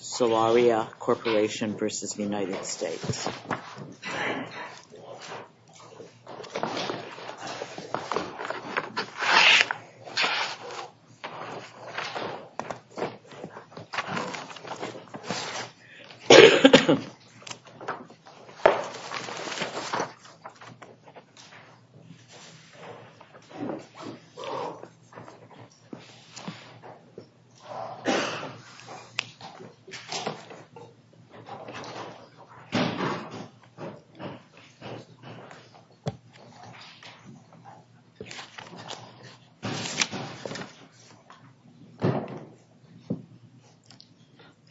Solaria Corporation v. United States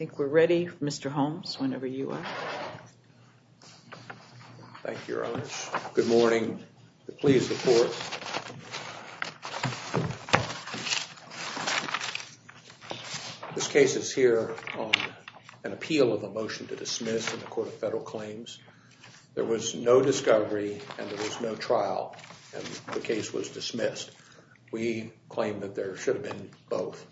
I think we're ready Mr. Holmes whenever you are. Thank you very much. Good morning. Please report. This case is here on an appeal of a motion to dismiss in the Court of Federal Claims. There was no discovery and there was no trial and the case was dismissed. We claim that there should have been both.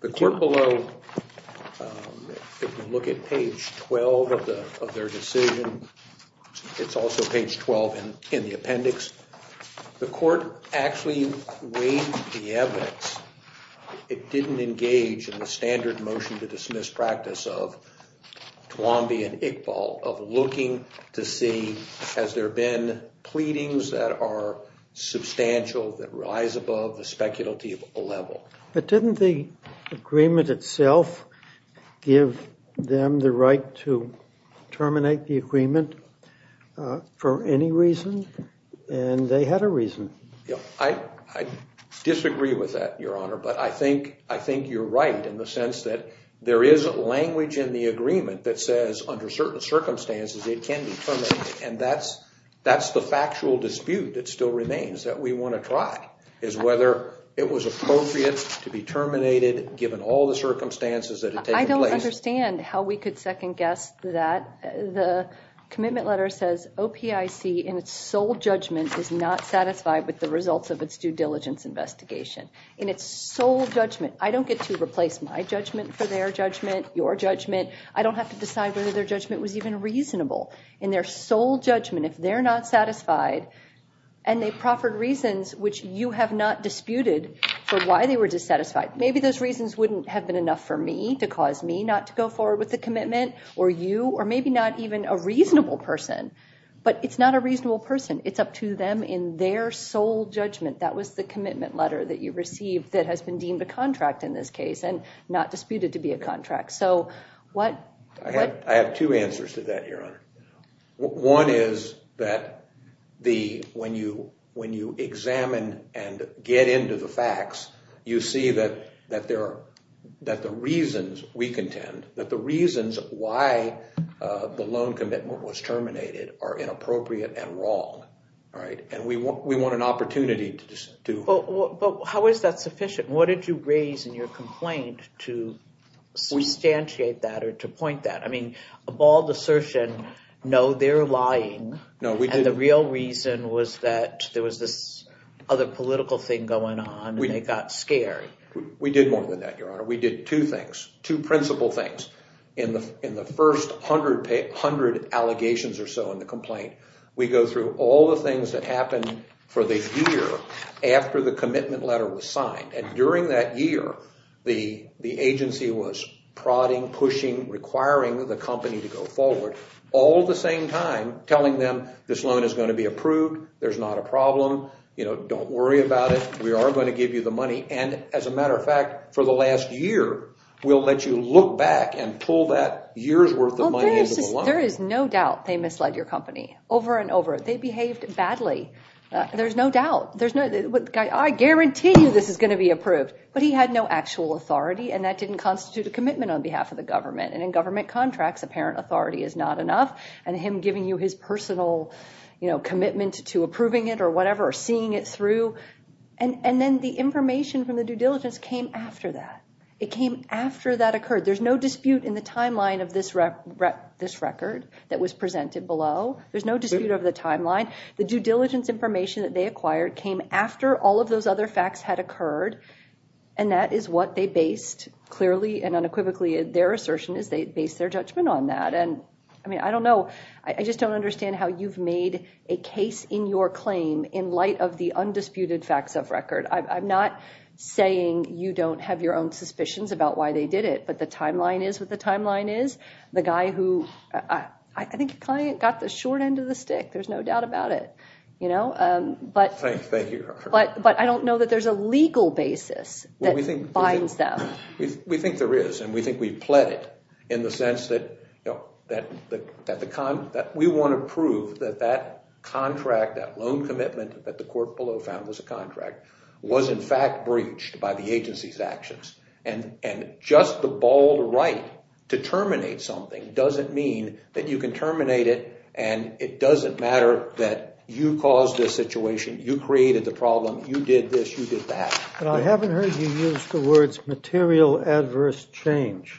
The court below, if you look at page 12 of their decision, it's also page 12 in the appendix, the court actually weighed the evidence. It didn't engage in the standard motion to dismiss practice of looking to see, has there been pleadings that are substantial that rise above the speculative level. But didn't the agreement itself give them the right to terminate the agreement for any reason? And they had a reason. I disagree with that, Your Honor, but I think you're right in the sense that there is language in the agreement that says under certain circumstances it can be terminated. And that's the factual dispute that still remains that we want to try, is whether it was appropriate to be terminated given all the circumstances that had taken place. I don't understand how we could second guess that. The commitment letter says OPIC in its sole judgment is not satisfied with the results of its due diligence investigation. In its sole judgment. I don't get to replace my judgment for their judgment, your judgment. I don't have to decide whether their judgment was even reasonable. In their sole judgment, if they're not satisfied, and they proffered reasons which you have not disputed for why they were dissatisfied. Maybe those reasons wouldn't have been enough for me to cause me not to go forward with the commitment, or you, or maybe not even a reasonable person. But it's not a reasonable person. It's up to them in their sole judgment. That was the commitment letter that you received that has been deemed a contract in this case and not disputed to be a contract. I have two answers to that, your honor. One is that when you examine and get into the facts, you see that the reasons we contend, that the reasons why the loan commitment was terminated are inappropriate and wrong. And we want an opportunity to... But how is that sufficient? What did you raise in your complaint to substantiate that or to point that? I mean, a bald assertion, no, they're lying. And the real reason was that there was this other political thing going on and they got scared. We did more than that, your honor. We did two things, two principal things. In the first hundred allegations or so in the complaint, we go through all the things that happened for the year after the commitment letter was signed. And during that year, the agency was prodding, pushing, requiring the company to go forward, all at the same time telling them this loan is going to be approved, there's not a problem, don't worry about it, we are going to give you the money. And as a matter of fact, for the last year, we'll let you look back and pull that year's worth of money into the loan. There is no doubt they misled your company over and over. They behaved badly. There's no doubt. I guarantee you this is going to be approved. But he had no actual authority and that didn't constitute a commitment on behalf of the government. And in government contracts, apparent authority is not enough. And him giving you his personal commitment to approving it or whatever or seeing it through. And then the information from the due diligence came after that. It came after that occurred. There's no dispute in the timeline of this record that was presented below. There's no dispute over the timeline. The due diligence information that they acquired came after all of those other facts had occurred. And that is what they based, clearly and unequivocally, their assertion is they based their judgment on that. And I mean, I don't know. I just don't understand how you've made a case in your claim in light of the undisputed facts of record. I'm not saying you don't have your own suspicions about why they did it, but the timeline is what the timeline is. The guy who, I think the client got the short end of the stick. There's no doubt about it. But I don't know that there's a legal basis that binds them. We think there is, and we think we've pled it in the sense that we want to prove that that contract, that loan commitment that the court below found was a contract, was in fact breached by the agency's actions. And just the bald right to terminate something doesn't mean that you can terminate it and it doesn't matter that you caused this situation, you created the problem, you did this, you did that. But I haven't heard you use the words material adverse change.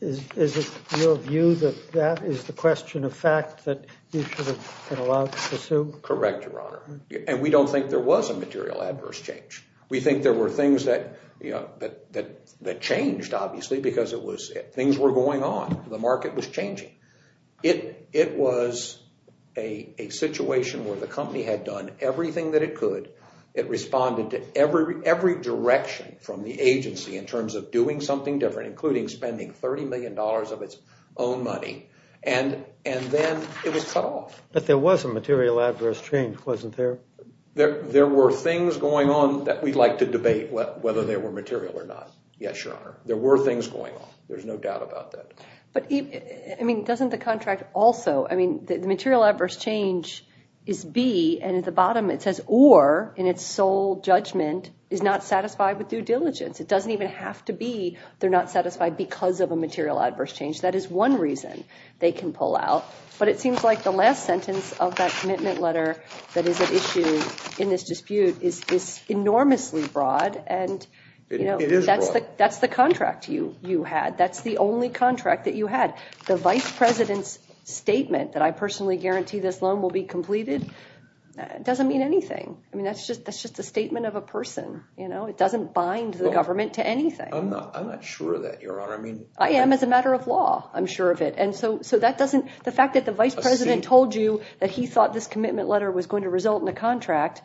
Is it your view that that is the question of fact that you should have been allowed to pursue? Correct, Your Honor. And we don't think there was a material adverse change. We think there were things that changed, obviously, because things were going on. The market was changing. It was a situation where the company had done everything that it could. It responded to every direction from the agency in terms of doing something different, including spending $30 million of its own money. And then it was cut off. But there was a material adverse change, wasn't there? There were things going on that we'd like to debate whether they were material or not. Yes, Your Honor. There were things going on. There's no doubt about that. But, I mean, doesn't the contract also, I mean, the material adverse change is B and at the bottom it says or in its sole judgment is not satisfied with due diligence. It doesn't even have to be they're not satisfied because of a material adverse change. That is one reason they can pull out. But it seems like the last sentence of that commitment letter that is at issue in this dispute is enormously broad. It is broad. That's the contract you had. That's the only contract that you had. The vice president's statement that I personally guarantee this loan will be completed doesn't mean anything. I mean, that's just a statement of a person. It doesn't bind the government to anything. I'm not sure of that, Your Honor. I am as a matter of law. I'm sure of it. The fact that the vice president told you that he thought this commitment letter was going to result in a contract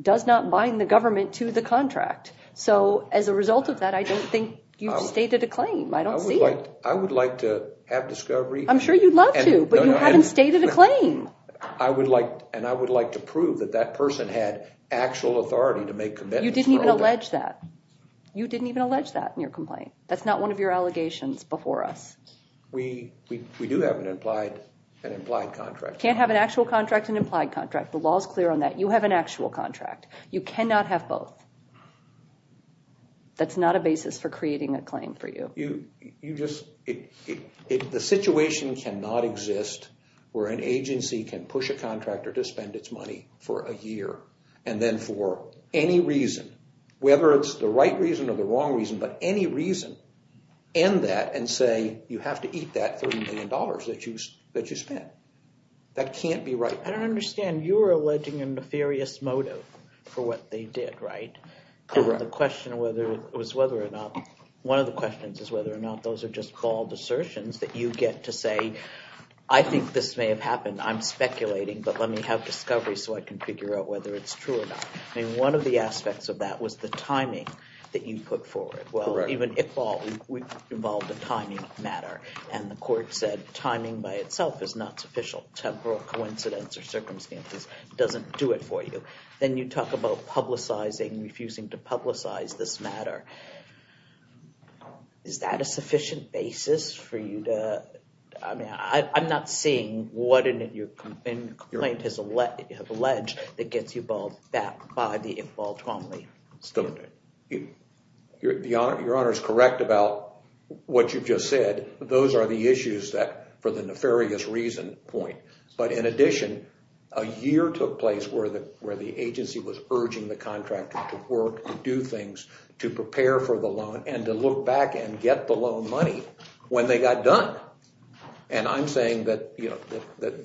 does not bind the government to the contract. So, as a result of that, I don't think you've stated a claim. I don't see it. I would like to have discovery. I'm sure you'd love to, but you haven't stated a claim. I would like to prove that that person had actual authority to make commitments. You didn't even allege that. You didn't even allege that in your complaint. That's not one of your allegations before us. We do have an implied contract. You can't have an actual contract and an implied contract. The law is clear on that. You have an actual contract. You cannot have both. That's not a basis for creating a claim for you. The situation cannot exist where an agency can push a contractor to spend its money for a year and then for any reason, whether it's the right reason or the wrong reason, but any reason, end that and say you have to eat that $30 million that you spent. That can't be right. I don't understand. You were alleging a nefarious motive for what they did, right? Correct. One of the questions is whether or not those are just bald assertions that you get to say, I think this may have happened. I'm speculating, but let me have discovery so I can figure out whether it's true or not. I mean, one of the aspects of that was the timing that you put forward. Well, even Iqbal, we involved a timing matter, and the court said timing by itself is not sufficient. Temporal coincidence or circumstances doesn't do it for you. Then you talk about publicizing, refusing to publicize this matter. Is that a sufficient basis for you to – I mean, I'm not seeing what in your complaint has alleged that gets you balled back by the Iqbal family. Your Honor is correct about what you've just said. Those are the issues that, for the nefarious reason point. But in addition, a year took place where the agency was urging the contractor to work, to do things, to prepare for the loan, and to look back and get the loan money when they got done. And I'm saying that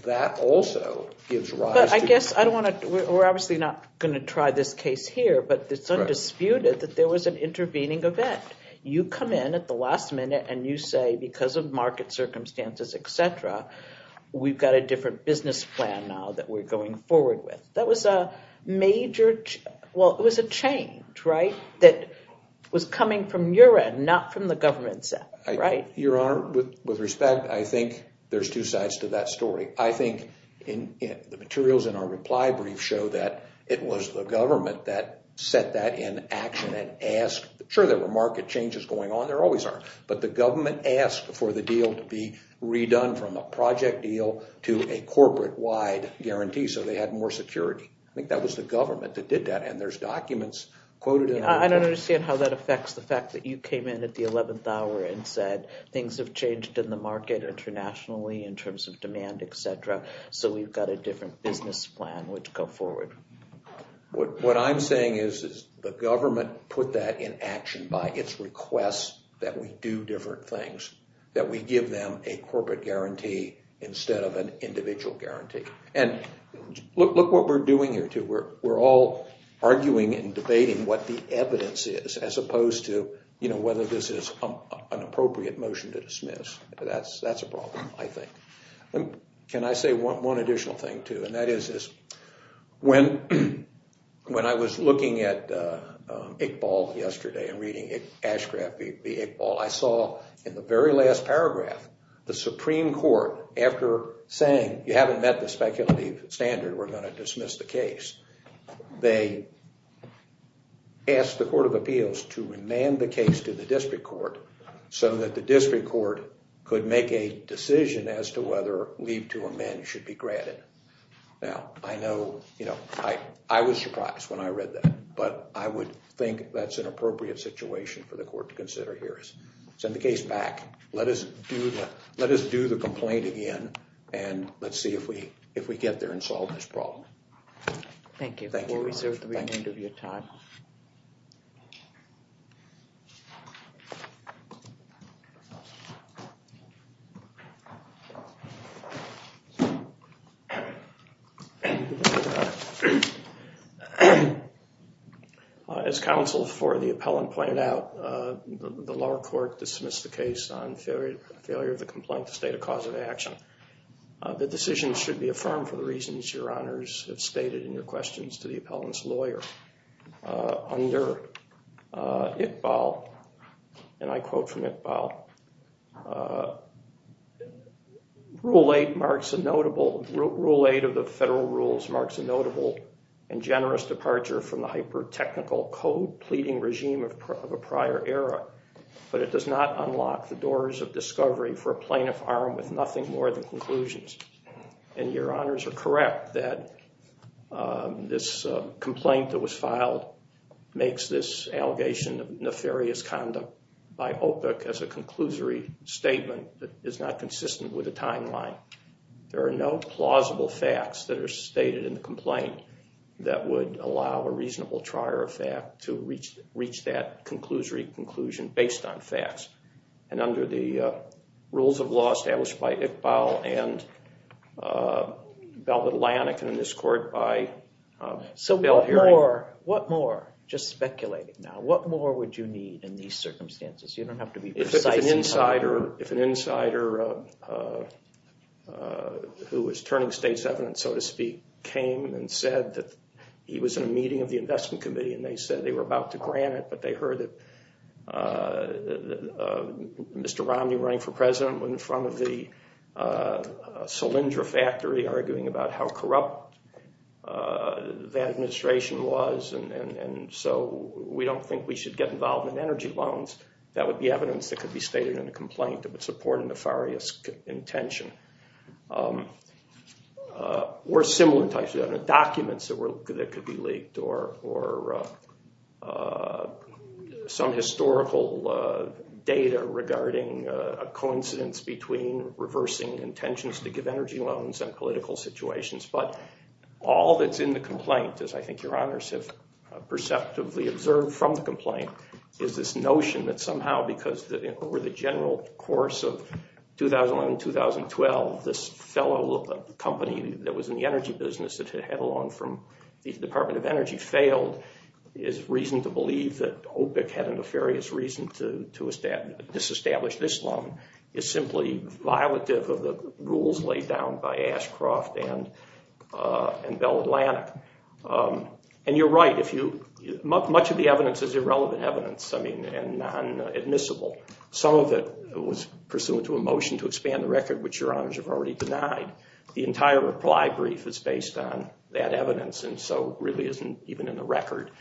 that also gives rise to – But I guess I don't want to – we're obviously not going to try this case here, but it's undisputed that there was an intervening event. You come in at the last minute and you say, because of market circumstances, et cetera, we've got a different business plan now that we're going forward with. That was a major – well, it was a change, right, that was coming from your end, not from the government's end, right? Your Honor, with respect, I think there's two sides to that story. The materials in our reply brief show that it was the government that set that in action and asked – sure, there were market changes going on. There always are. But the government asked for the deal to be redone from a project deal to a corporate-wide guarantee so they had more security. I think that was the government that did that, and there's documents quoted in the report. I understand how that affects the fact that you came in at the 11th hour and said things have changed in the market internationally in terms of demand, et cetera, so we've got a different business plan, which go forward. What I'm saying is the government put that in action by its request that we do different things, that we give them a corporate guarantee instead of an individual guarantee. And look what we're doing here, too. We're all arguing and debating what the evidence is as opposed to whether this is an appropriate motion to dismiss. That's a problem, I think. Can I say one additional thing, too? When I was looking at Iqbal yesterday and reading Ashcraft v. Iqbal, I saw in the very last paragraph the Supreme Court, after saying you haven't met the speculative standard, we're going to dismiss the case. They asked the Court of Appeals to remand the case to the district court so that the district court could make a decision as to whether leave to amend should be granted. Now, I know I was surprised when I read that, but I would think that's an appropriate situation for the court to consider here. Send the case back. Let us do the complaint again, and let's see if we get there and solve this problem. Thank you. We'll reserve the remainder of your time. As counsel for the appellant pointed out, the lower court dismissed the case on failure of the complaint to state a cause of action. The decision should be affirmed for the reasons your honors have stated in your questions to the appellant's lawyer. Under Iqbal, and I quote from Iqbal, Rule 8 of the federal rules marks a notable and generous departure from the hyper-technical code-pleading regime of a prior era, but it does not unlock the doors of discovery for a plaintiff armed with nothing more than conclusions. And your honors are correct that this complaint that was filed makes this allegation of nefarious conduct by OPIC as a conclusory statement that is not consistent with the timeline. There are no plausible facts that are stated in the complaint that would allow a reasonable trier of fact to reach that conclusory conclusion based on facts. And under the rules of law established by Iqbal and Velvet Lannik and in this court by Bill Herring. So what more, just speculating now, what more would you need in these circumstances? You don't have to be precise. If an insider who was turning state's evidence, so to speak, came and said that he was in a meeting of the investment committee and they said they were about to grant it, but they heard that Mr. Romney running for president in front of the Solyndra factory arguing about how corrupt that administration was and so we don't think we should get involved in energy loans. That would be evidence that could be stated in the complaint of supporting nefarious intention. Or similar types of documents that could be leaked or some historical data regarding a coincidence between reversing intentions to give energy loans and political situations. But all that's in the complaint, as I think your honors have perceptively observed from the complaint, is this notion that somehow because over the general course of 2011-2012 this fellow company that was in the energy business that had a loan from the Department of Energy failed is reason to believe that OPIC had a nefarious reason to disestablish this loan. It's simply violative of the rules laid down by Ashcroft and Bell Atlantic. And you're right, much of the evidence is irrelevant evidence and non-admissible. Some of it was pursuant to a motion to expand the record, which your honors have already denied. The entire reply brief is based on that evidence and so really isn't even in the record.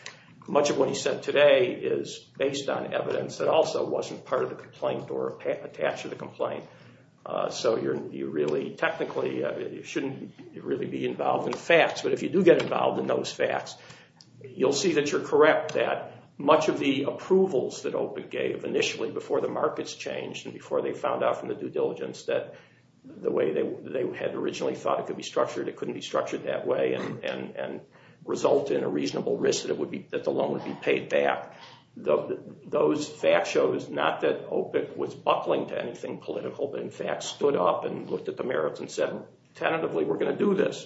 Much of what he said today is based on evidence that also wasn't part of the complaint or attached to the complaint. So you really technically shouldn't really be involved in the facts. But if you do get involved in those facts, you'll see that you're correct that much of the approvals that OPIC gave initially before the markets changed and before they found out from the due diligence that the way they had originally thought it could be structured, it couldn't be structured that way and result in a reasonable risk that the loan would be paid back. Those facts show us not that OPIC was buckling to anything political, but in fact stood up and looked at the merits and said tentatively we're going to do this.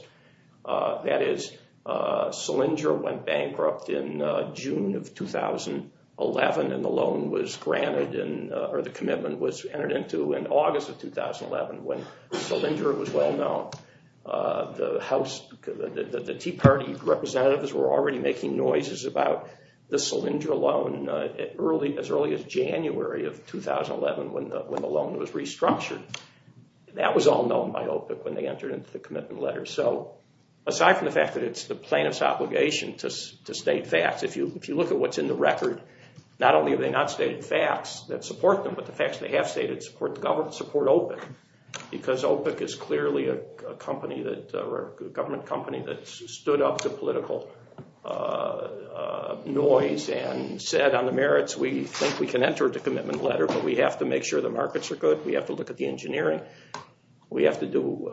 That is, Solyndra went bankrupt in June of 2011 and the loan was granted, or the commitment was entered into in August of 2011 when Solyndra was well known. The Tea Party representatives were already making noises about the Solyndra loan as early as January of 2011 when the loan was restructured. That was all known by OPIC when they entered into the commitment letter. So aside from the fact that it's the plaintiff's obligation to state facts, if you look at what's in the record, not only are they not stated facts that support them, but the facts they have stated support OPIC. Because OPIC is clearly a government company that stood up to political noise and said on the merits we think we can enter the commitment letter, but we have to make sure the markets are good. We have to look at the engineering. We have to do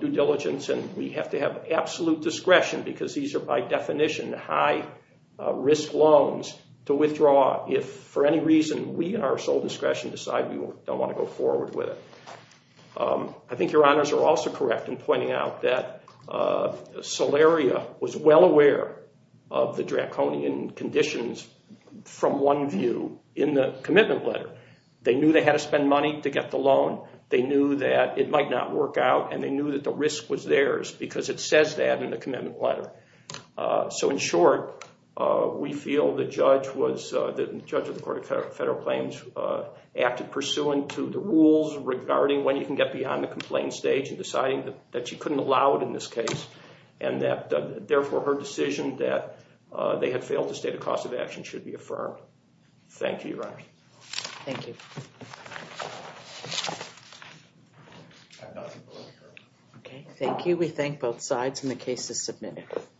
due diligence and we have to have absolute discretion because these are by definition high risk loans to withdraw if for any reason we in our sole discretion decide we don't want to go forward with it. I think your honors are also correct in pointing out that Solaria was well aware of the draconian conditions from one view in the commitment letter. They knew they had to spend money to get the loan. They knew that it might not work out and they knew that the risk was theirs because it says that in the commitment letter. So in short, we feel the judge of the court of federal claims acted pursuant to the rules regarding when you can get beyond the complaint stage and deciding that you couldn't allow it in this case and that therefore her decision that they had failed to state a cost of action should be affirmed. Thank you, your honors. Thank you. Okay, thank you. We thank both sides and the case is submitted.